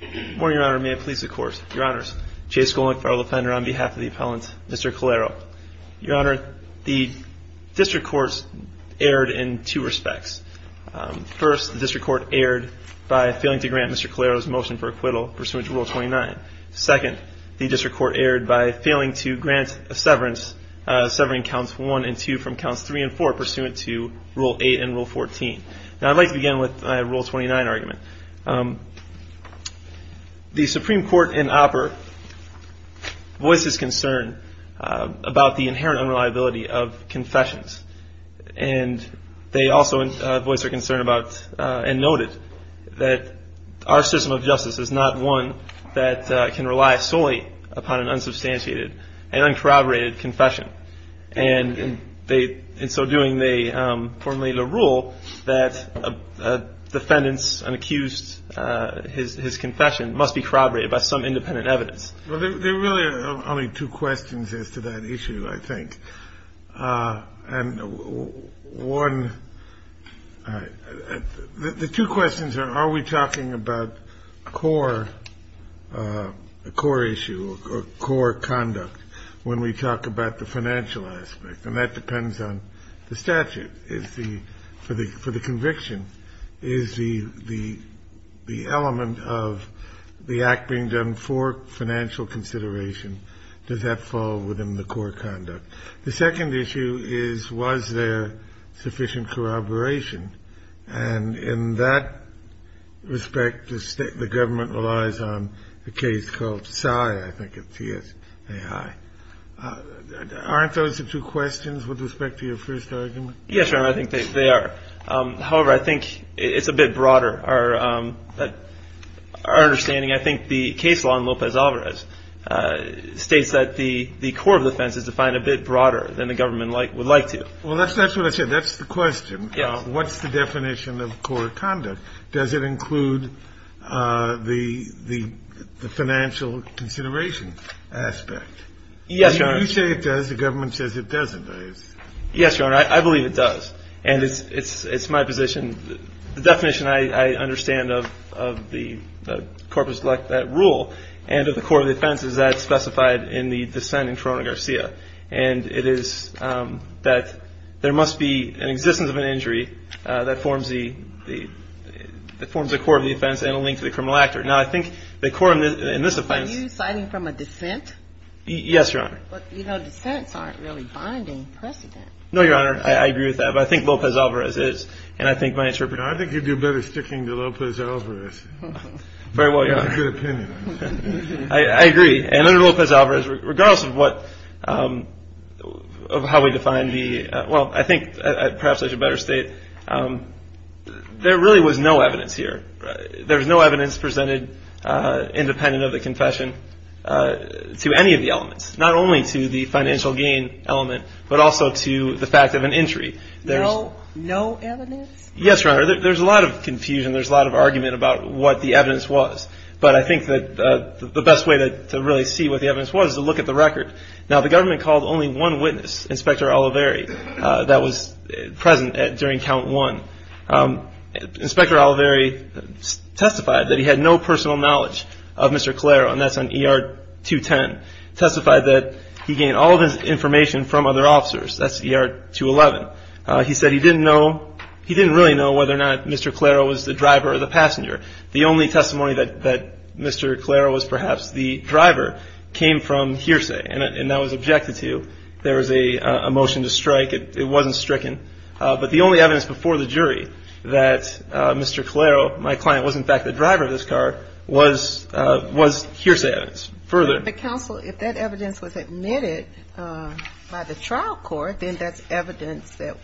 Good morning, Your Honor. May it please the Court. Your Honors, Chase Golink, federal defender on behalf of the appellant, Mr. Calero. Your Honor, the District Court erred in two respects. First, the District Court erred by failing to grant Mr. Calero's motion for acquittal pursuant to Rule 29. Second, the District Court erred by failing to grant a severance, severing Counts 1 and 2 from Counts 3 and 4 pursuant to Rule 8 and Rule 14. Now I'd like to begin with my Rule 29 argument. The Supreme Court in OPPER voices concern about the inherent unreliability of confessions. And they also voice their concern about and noted that our system of justice is not one that can rely solely upon an unsubstantiated and uncorroborated confession. And in so doing, they formally lay the rule that defendants unaccused of his confession must be corroborated by some independent evidence. Well, there really are only two questions as to that issue, I think. And one — the two questions are, are we talking about core issue or core conduct when we talk about the financial aspect? And that depends on the statute. Is the — for the conviction, is the element of the act being done for financial consideration? Does that fall within the core conduct? The second issue is, was there sufficient corroboration? And in that respect, the state — the government relies on a case called Sy, I think, of TSAI. Aren't those the two questions with respect to your first argument? Yes, Your Honor, I think they are. However, I think it's a bit broader. Our understanding — I think the case law in Lopez-Alvarez states that the core of the offense is defined a bit broader than the government would like to. Well, that's what I said. That's the question. What's the definition of core conduct? Does it include the financial consideration aspect? Yes, Your Honor. You say it does. The government says it doesn't. Yes, Your Honor, I believe it does. And it's my position — the definition I understand of the corpus lecta rule and of the core of the offense is that it's specified in the dissent in Corona-Garcia. And it is that there must be an existence of an injury that forms the core of the offense and a link to the criminal actor. Now, I think the core in this offense — Are you citing from a dissent? Yes, Your Honor. But, you know, dissents aren't really binding precedent. No, Your Honor, I agree with that. But I think Lopez-Alvarez is. And I think my interpretation — I think you'd do better sticking to Lopez-Alvarez. Very well, Your Honor. That's a good opinion. I agree. And under Lopez-Alvarez, regardless of how we define the — well, I think perhaps I should better state there really was no evidence here. There's no evidence presented independent of the confession to any of the elements, not only to the financial gain element, but also to the fact of an injury. No evidence? Yes, Your Honor. There's a lot of confusion. There's a lot of argument about what the evidence was. But I think that the best way to really see what the evidence was is to look at the record. Now, the government called only one witness, Inspector Oliveri, that was present during count one. Inspector Oliveri testified that he had no personal knowledge of Mr. Calero, and that's on ER 210. Testified that he gained all of his information from other officers. That's ER 211. He said he didn't know — he didn't really know whether or not Mr. Calero was the driver or the passenger. The only testimony that Mr. Calero was perhaps the driver came from hearsay, and that was objected to. There was a motion to strike. It wasn't stricken. But the only evidence before the jury that Mr. Calero, my client, was in fact the driver of this car, was hearsay evidence. Further — But, counsel, if that evidence was admitted by the trial court, then that's evidence that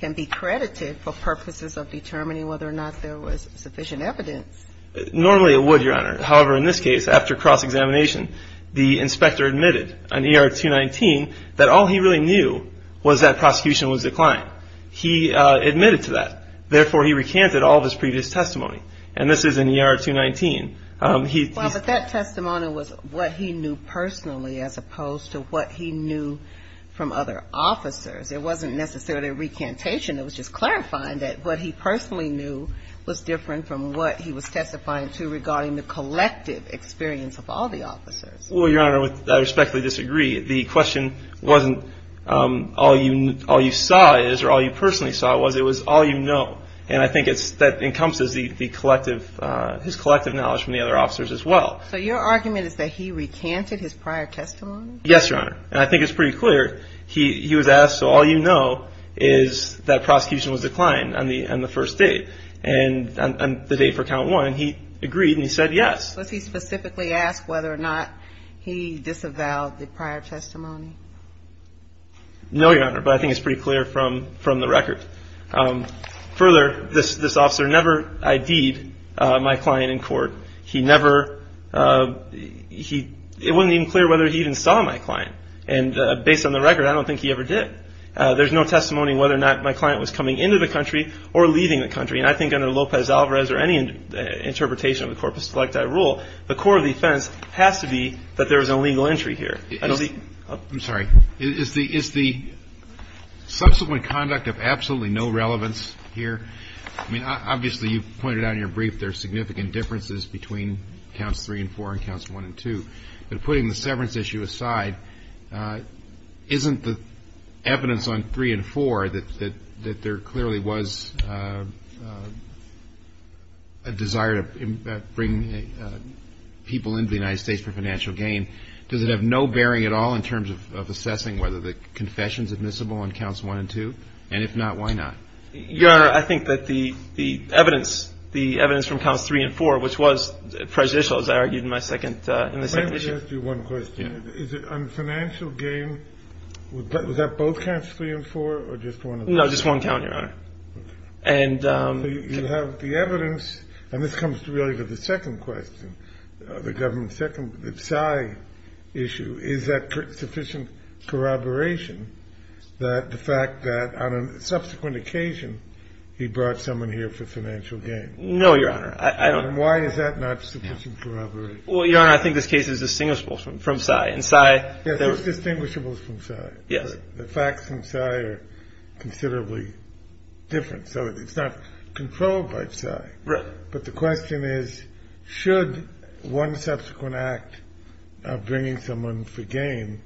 can be credited for purposes of determining whether or not there was sufficient evidence. Normally it would, Your Honor. However, in this case, after cross-examination, the inspector admitted on ER 219 that all he really knew was that prosecution was declined. He admitted to that. Therefore, he recanted all of his previous testimony. And this is in ER 219. Well, but that testimony was what he knew personally as opposed to what he knew from other officers. It wasn't necessarily a recantation. It was just clarifying that what he personally knew was different from what he was testifying to regarding the collective experience of all the officers. Well, Your Honor, I respectfully disagree. The question wasn't all you saw is or all you personally saw was. It was all you know. And I think that encompasses his collective knowledge from the other officers as well. So your argument is that he recanted his prior testimony? Yes, Your Honor. And I think it's pretty clear. He was asked, so all you know is that prosecution was declined on the first date. And on the date for count one, he agreed and he said yes. Was he specifically asked whether or not he disavowed the prior testimony? No, Your Honor. But I think it's pretty clear from the record. Further, this officer never ID'd my client in court. He never he it wasn't even clear whether he even saw my client. And based on the record, I don't think he ever did. There's no testimony whether or not my client was coming into the country or leaving the country. And I think under Lopez-Alvarez or any interpretation of the Corpus Selecta rule, the core of the offense has to be that there was a legal entry here. I'm sorry. Is the subsequent conduct of absolutely no relevance here? I mean, obviously, you pointed out in your brief there are significant differences between counts three and four and counts one and two. But putting the severance issue aside, isn't the evidence on three and four that there clearly was a desire to bring people into the United States for financial gain? Does it have no bearing at all in terms of assessing whether the confession is admissible on counts one and two? And if not, why not? Your Honor, I think that the evidence from counts three and four, which was prejudicial, as I argued in my second issue. Let me ask you one question. On financial gain, was that both counts three and four or just one? No, just one count, Your Honor. And you have the evidence. And this comes really to the second question, the government's second, the PSY issue. Is that sufficient corroboration that the fact that on a subsequent occasion he brought someone here for financial gain? No, Your Honor. And why is that not sufficient corroboration? Well, Your Honor, I think this case is distinguishable from PSY. Yes, it's distinguishable from PSY. Yes. The facts from PSY are considerably different, so it's not controlled by PSY. Right. But the question is, should one subsequent act of bringing someone for gain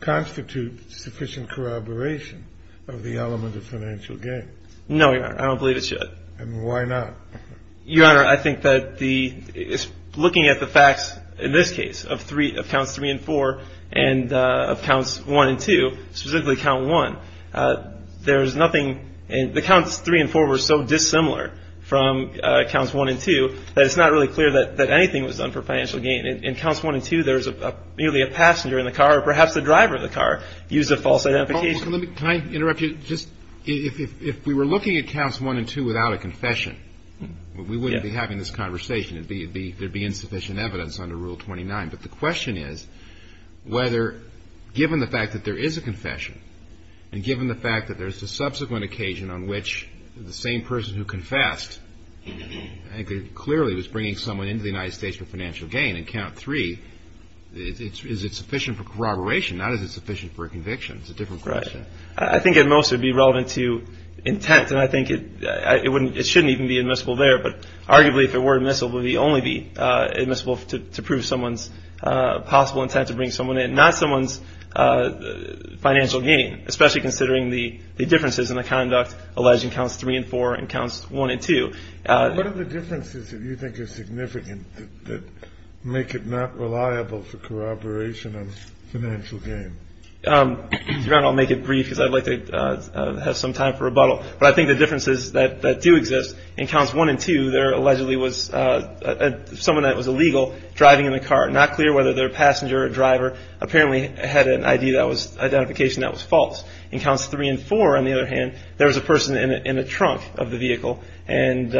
constitute sufficient corroboration of the element of financial gain? No, Your Honor. I don't believe it should. And why not? Your Honor, I think that looking at the facts in this case of counts three and four and of counts one and two, specifically count one, there's nothing – the counts three and four were so dissimilar from counts one and two that it's not really clear that anything was done for financial gain. In counts one and two, there's merely a passenger in the car or perhaps the driver of the car used a false identification. Can I interrupt you? If we were looking at counts one and two without a confession, we wouldn't be having this conversation. There would be insufficient evidence under Rule 29. But the question is whether, given the fact that there is a confession and given the fact that there's a subsequent occasion on which the same person who confessed clearly was bringing someone into the United States for financial gain, in count three, is it sufficient for corroboration, not is it sufficient for a conviction? It's a different question. Right. I think at most it would be relevant to intent, and I think it shouldn't even be admissible there. But arguably, if it were admissible, it would only be admissible to prove someone's possible intent to bring someone in, not someone's financial gain, especially considering the differences in the conduct alleged in counts three and four and counts one and two. What are the differences that you think are significant that make it not reliable for corroboration of financial gain? I'll make it brief because I'd like to have some time for rebuttal. But I think the differences that do exist in counts one and two, there allegedly was someone that was illegal driving in the car, not clear whether they're a passenger or a driver, apparently had an ID that was identification that was false. In counts three and four, on the other hand, there was a person in the trunk of the vehicle and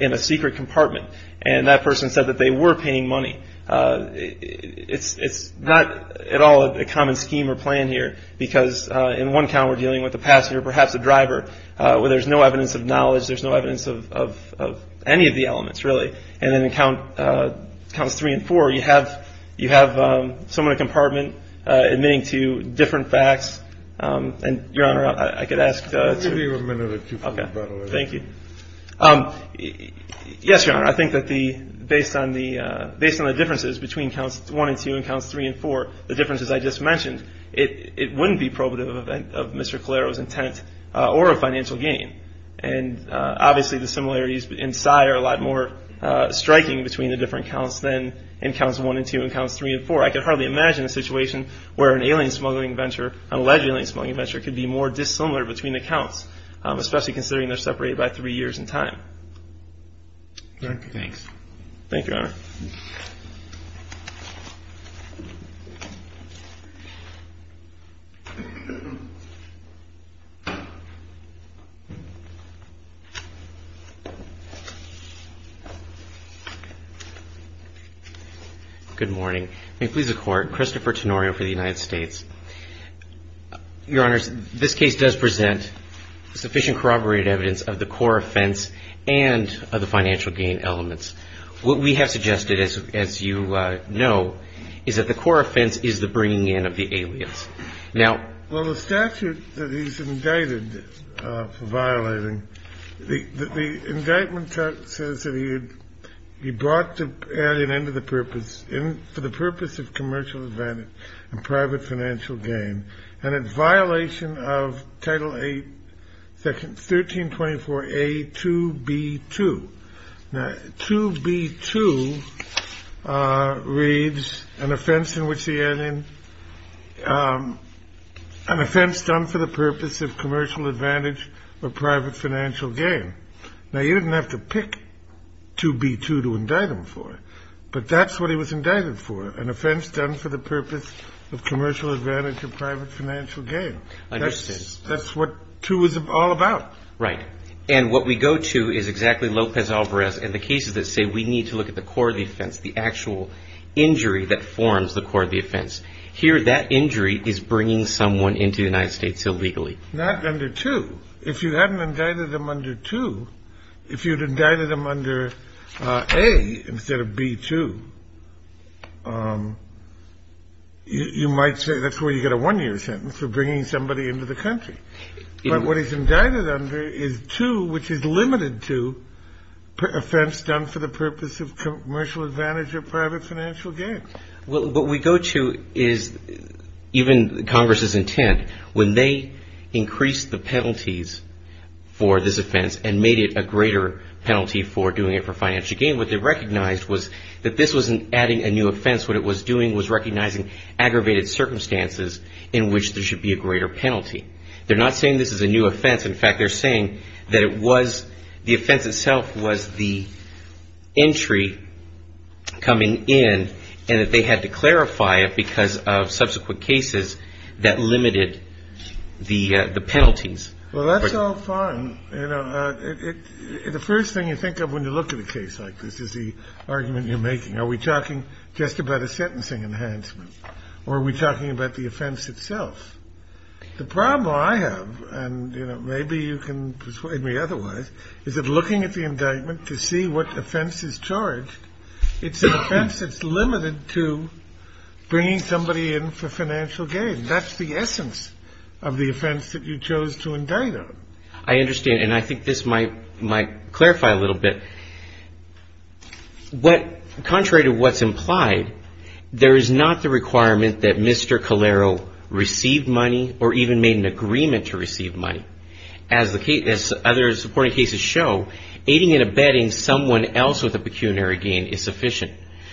in a secret compartment, and that person said that they were paying money. It's not at all a common scheme or plan here because in one count we're dealing with a passenger, perhaps a driver, where there's no evidence of knowledge. There's no evidence of any of the elements, really. And then in counts three and four, you have someone in a compartment admitting to different facts. And, Your Honor, I could ask two. We'll give you a minute or two for rebuttal. Okay. Thank you. Yes, Your Honor. I think that based on the differences between counts one and two and counts three and four, the differences I just mentioned, it wouldn't be probative of Mr. Calero's intent or a financial gain. And obviously the similarities in size are a lot more striking between the different counts than in counts one and two and counts three and four. I can hardly imagine a situation where an alleged alien smuggling venture could be more dissimilar between the counts, especially considering they're separated by three years in time. Thanks. Thank you, Your Honor. Good morning. May it please the Court. Christopher Tenorio for the United States. Your Honor, this case does present sufficient corroborated evidence of the core offense and of the financial gain elements. What we have suggested, as you know, is that the core offense is the bringing in of the alias. Now the statute that he's indicted for violating, the indictment says that he brought the alien in for the purpose of commercial advantage and private financial gain and in violation of Title 8, 1324A 2B2. Now 2B2 reads an offense in which the alien, an offense done for the purpose of commercial advantage or private financial gain. Now you didn't have to pick 2B2 to indict him for it, but that's what he was indicted for, an offense done for the purpose of commercial advantage or private financial gain. Understood. That's what 2 is all about. Right. And what we go to is exactly Lopez Alvarez and the cases that say we need to look at the core of the offense, the actual injury that forms the core of the offense. Here that injury is bringing someone into the United States illegally. Not under 2. If you hadn't indicted him under 2, if you'd indicted him under A instead of B2, you might say that's where you get a one-year sentence for bringing somebody into the country. But what he's indicted under is 2, which is limited to offense done for the purpose of commercial advantage or private financial gain. What we go to is even Congress's intent. When they increased the penalties for this offense and made it a greater penalty for doing it for financial gain, what they recognized was that this wasn't adding a new offense. What it was doing was recognizing aggravated circumstances in which there should be a greater penalty. In fact, they're saying that it was the offense itself was the entry coming in and that they had to clarify it because of subsequent cases that limited the penalties. Well, that's all fine. You know, the first thing you think of when you look at a case like this is the argument you're making. Are we talking just about a sentencing enhancement or are we talking about the offense itself? The problem I have, and maybe you can persuade me otherwise, is that looking at the indictment to see what offense is charged, it's an offense that's limited to bringing somebody in for financial gain. That's the essence of the offense that you chose to indict on. I understand, and I think this might clarify a little bit. Contrary to what's implied, there is not the requirement that Mr. Calero received money or even made an agreement to receive money. As other supporting cases show, aiding and abetting someone else with a pecuniary gain is sufficient.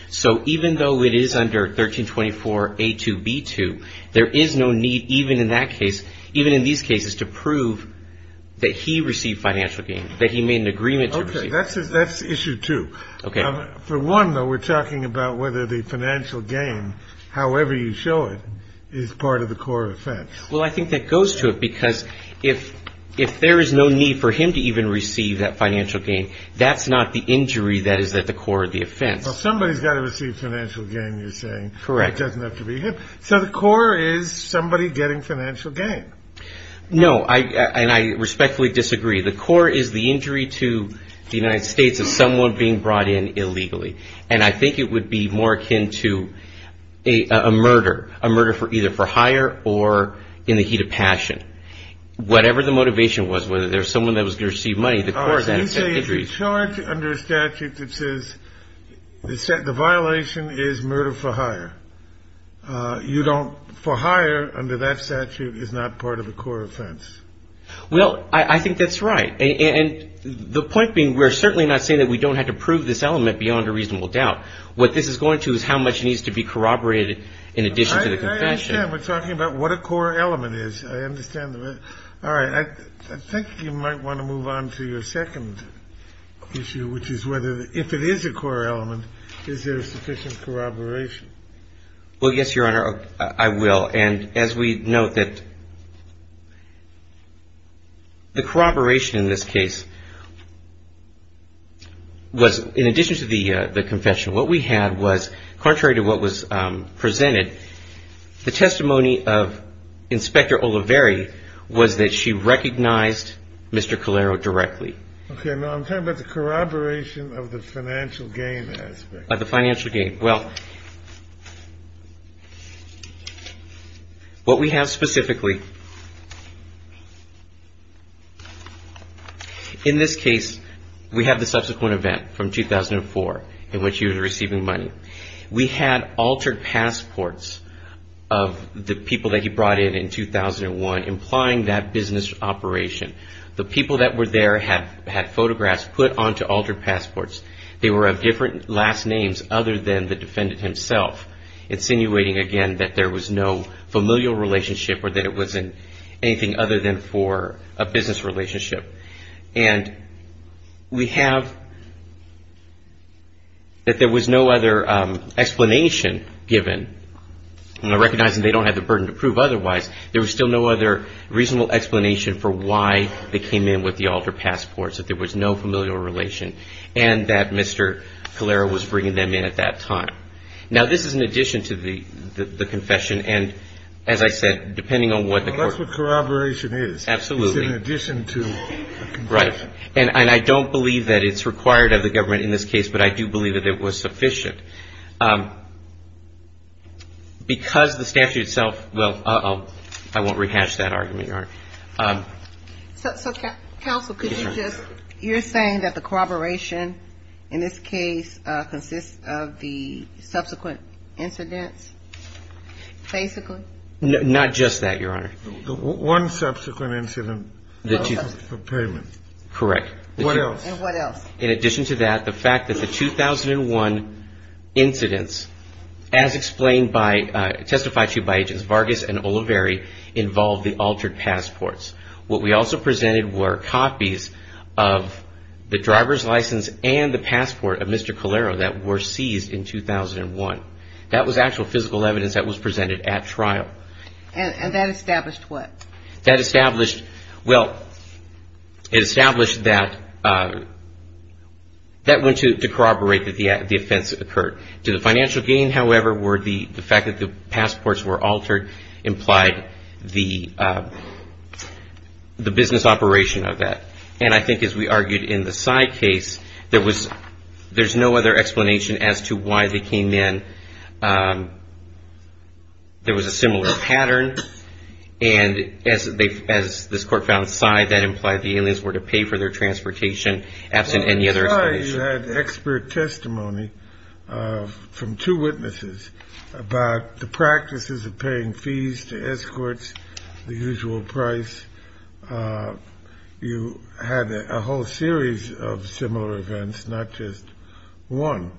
So even though it is under 1324A2B2, there is no need even in that case, even in these cases, to prove that he received financial gain, that he made an agreement to receive it. Okay, that's issue two. For one, though, we're talking about whether the financial gain, however you show it, is part of the core offense. Well, I think that goes to it because if there is no need for him to even receive that financial gain, that's not the injury that is at the core of the offense. Well, somebody's got to receive financial gain, you're saying. Correct. It doesn't have to be him. So the core is somebody getting financial gain. No, and I respectfully disagree. The core is the injury to the United States of someone being brought in illegally. And I think it would be more akin to a murder, a murder either for hire or in the heat of passion. Whatever the motivation was, whether there was someone that was going to receive money, the core is that. You say it's charged under a statute that says the violation is murder for hire. You don't, for hire, under that statute is not part of the core offense. Well, I think that's right. And the point being we're certainly not saying that we don't have to prove this element beyond a reasonable doubt. What this is going to is how much needs to be corroborated in addition to the confession. I understand. We're talking about what a core element is. I understand. All right. I think you might want to move on to your second issue, which is whether if it is a core element, is there sufficient corroboration? Well, yes, Your Honor, I will. And as we note that the corroboration in this case was in addition to the confession. What we had was contrary to what was presented, the testimony of Inspector Oliveri was that she recognized Mr. Calero directly. Okay. Now, I'm talking about the corroboration of the financial gain aspect. The financial gain. Well, what we have specifically, in this case, we have the subsequent event from 2004 in which he was receiving money. We had altered passports of the people that he brought in in 2001 implying that business operation. The people that were there had photographs put onto altered passports. They were of different last names other than the defendant himself, insinuating, again, that there was no familial relationship or that it wasn't anything other than for a business relationship. And we have that there was no other explanation given, recognizing they don't have the burden to prove otherwise. There was still no other reasonable explanation for why they came in with the altered passports, that there was no familial relation. And that Mr. Calero was bringing them in at that time. Now, this is in addition to the confession. And as I said, depending on what the court ---- Well, that's what corroboration is. Absolutely. It's in addition to a confession. Right. And I don't believe that it's required of the government in this case, but I do believe that it was sufficient. Because the statute itself ---- well, uh-oh, I won't rehash that argument, Your Honor. So, Counsel, could you just ---- you're saying that the corroboration in this case consists of the subsequent incidents, basically? Not just that, Your Honor. One subsequent incident for payment. Correct. What else? And what else? In addition to that, the fact that the 2001 incidents, as explained by ---- testified to you by Agents Vargas and Oliveri, involved the altered passports. What we also presented were copies of the driver's license and the passport of Mr. Calero that were seized in 2001. That was actual physical evidence that was presented at trial. And that established what? That established ---- well, it established that that went to corroborate that the offense occurred. To the financial gain, however, were the fact that the passports were altered implied the business operation of that. And I think, as we argued in the Sy case, there was ---- there's no other explanation as to why they came in. There was a similar pattern. And as they ---- as this Court found Sy, that implied the aliens were to pay for their transportation, absent any other explanation. You had expert testimony from two witnesses about the practices of paying fees to escorts, the usual price. You had a whole series of similar events, not just one.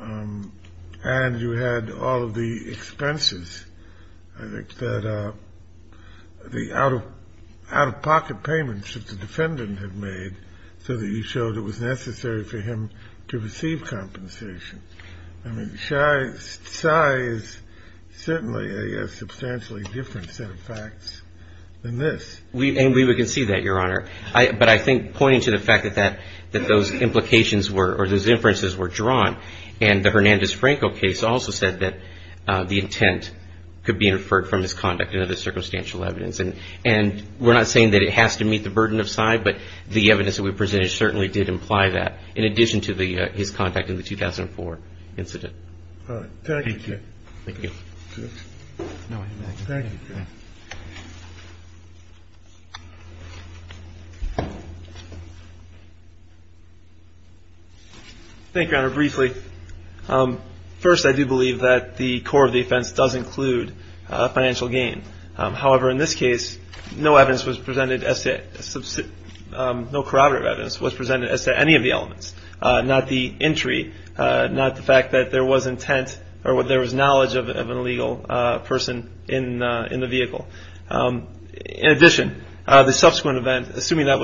And you had all of the expenses, I think, that the out-of-pocket payments that the defendant had made so that you showed it was necessary for him to receive compensation. I mean, Sy is certainly a substantially different set of facts than this. And we would concede that, Your Honor. But I think pointing to the fact that that ---- that those implications were ---- or those inferences were drawn. And the Hernandez-Franco case also said that the intent could be inferred from his conduct and other circumstantial evidence. And we're not saying that it has to meet the burden of Sy. But the evidence that we presented certainly did imply that, in addition to his contact in the 2004 incident. Thank you. Thank you. Thank you, Your Honor. Briefly, first, I do believe that the core of the offense does include financial gain. However, in this case, no evidence was presented as to ---- no corroborative evidence was presented as to any of the elements. Not the entry, not the fact that there was intent or there was knowledge of an illegal person in the vehicle. In addition, the subsequent event, assuming that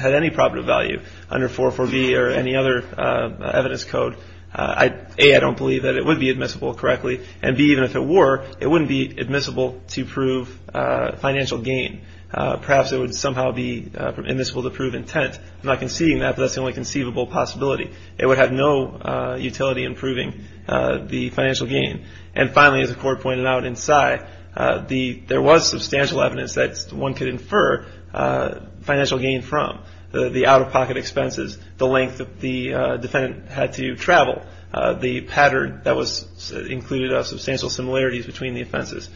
had any probative value under 404B or any other evidence code, A, I don't believe that it would be admissible correctly. And B, even if it were, it wouldn't be admissible to prove financial gain. Perhaps it would somehow be admissible to prove intent. I'm not conceding that, but that's the only conceivable possibility. It would have no utility in proving the financial gain. And finally, as the Court pointed out in Sy, there was substantial evidence that one could infer financial gain from. The out-of-pocket expenses, the length that the defendant had to travel, the pattern that included substantial similarities between the offenses.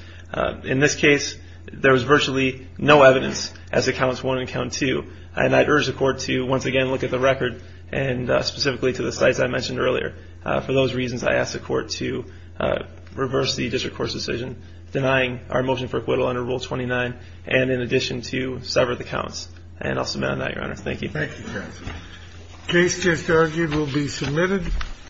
In this case, there was virtually no evidence as to Counts 1 and Count 2. And I urge the Court to once again look at the record and specifically to the sites I mentioned earlier. For those reasons, I ask the Court to reverse the District Court's decision denying our motion for acquittal under Rule 29 and in addition to sever the counts. And I'll submit on that, Your Honor. Thank you. Thank you, counsel. The case just argued will be submitted.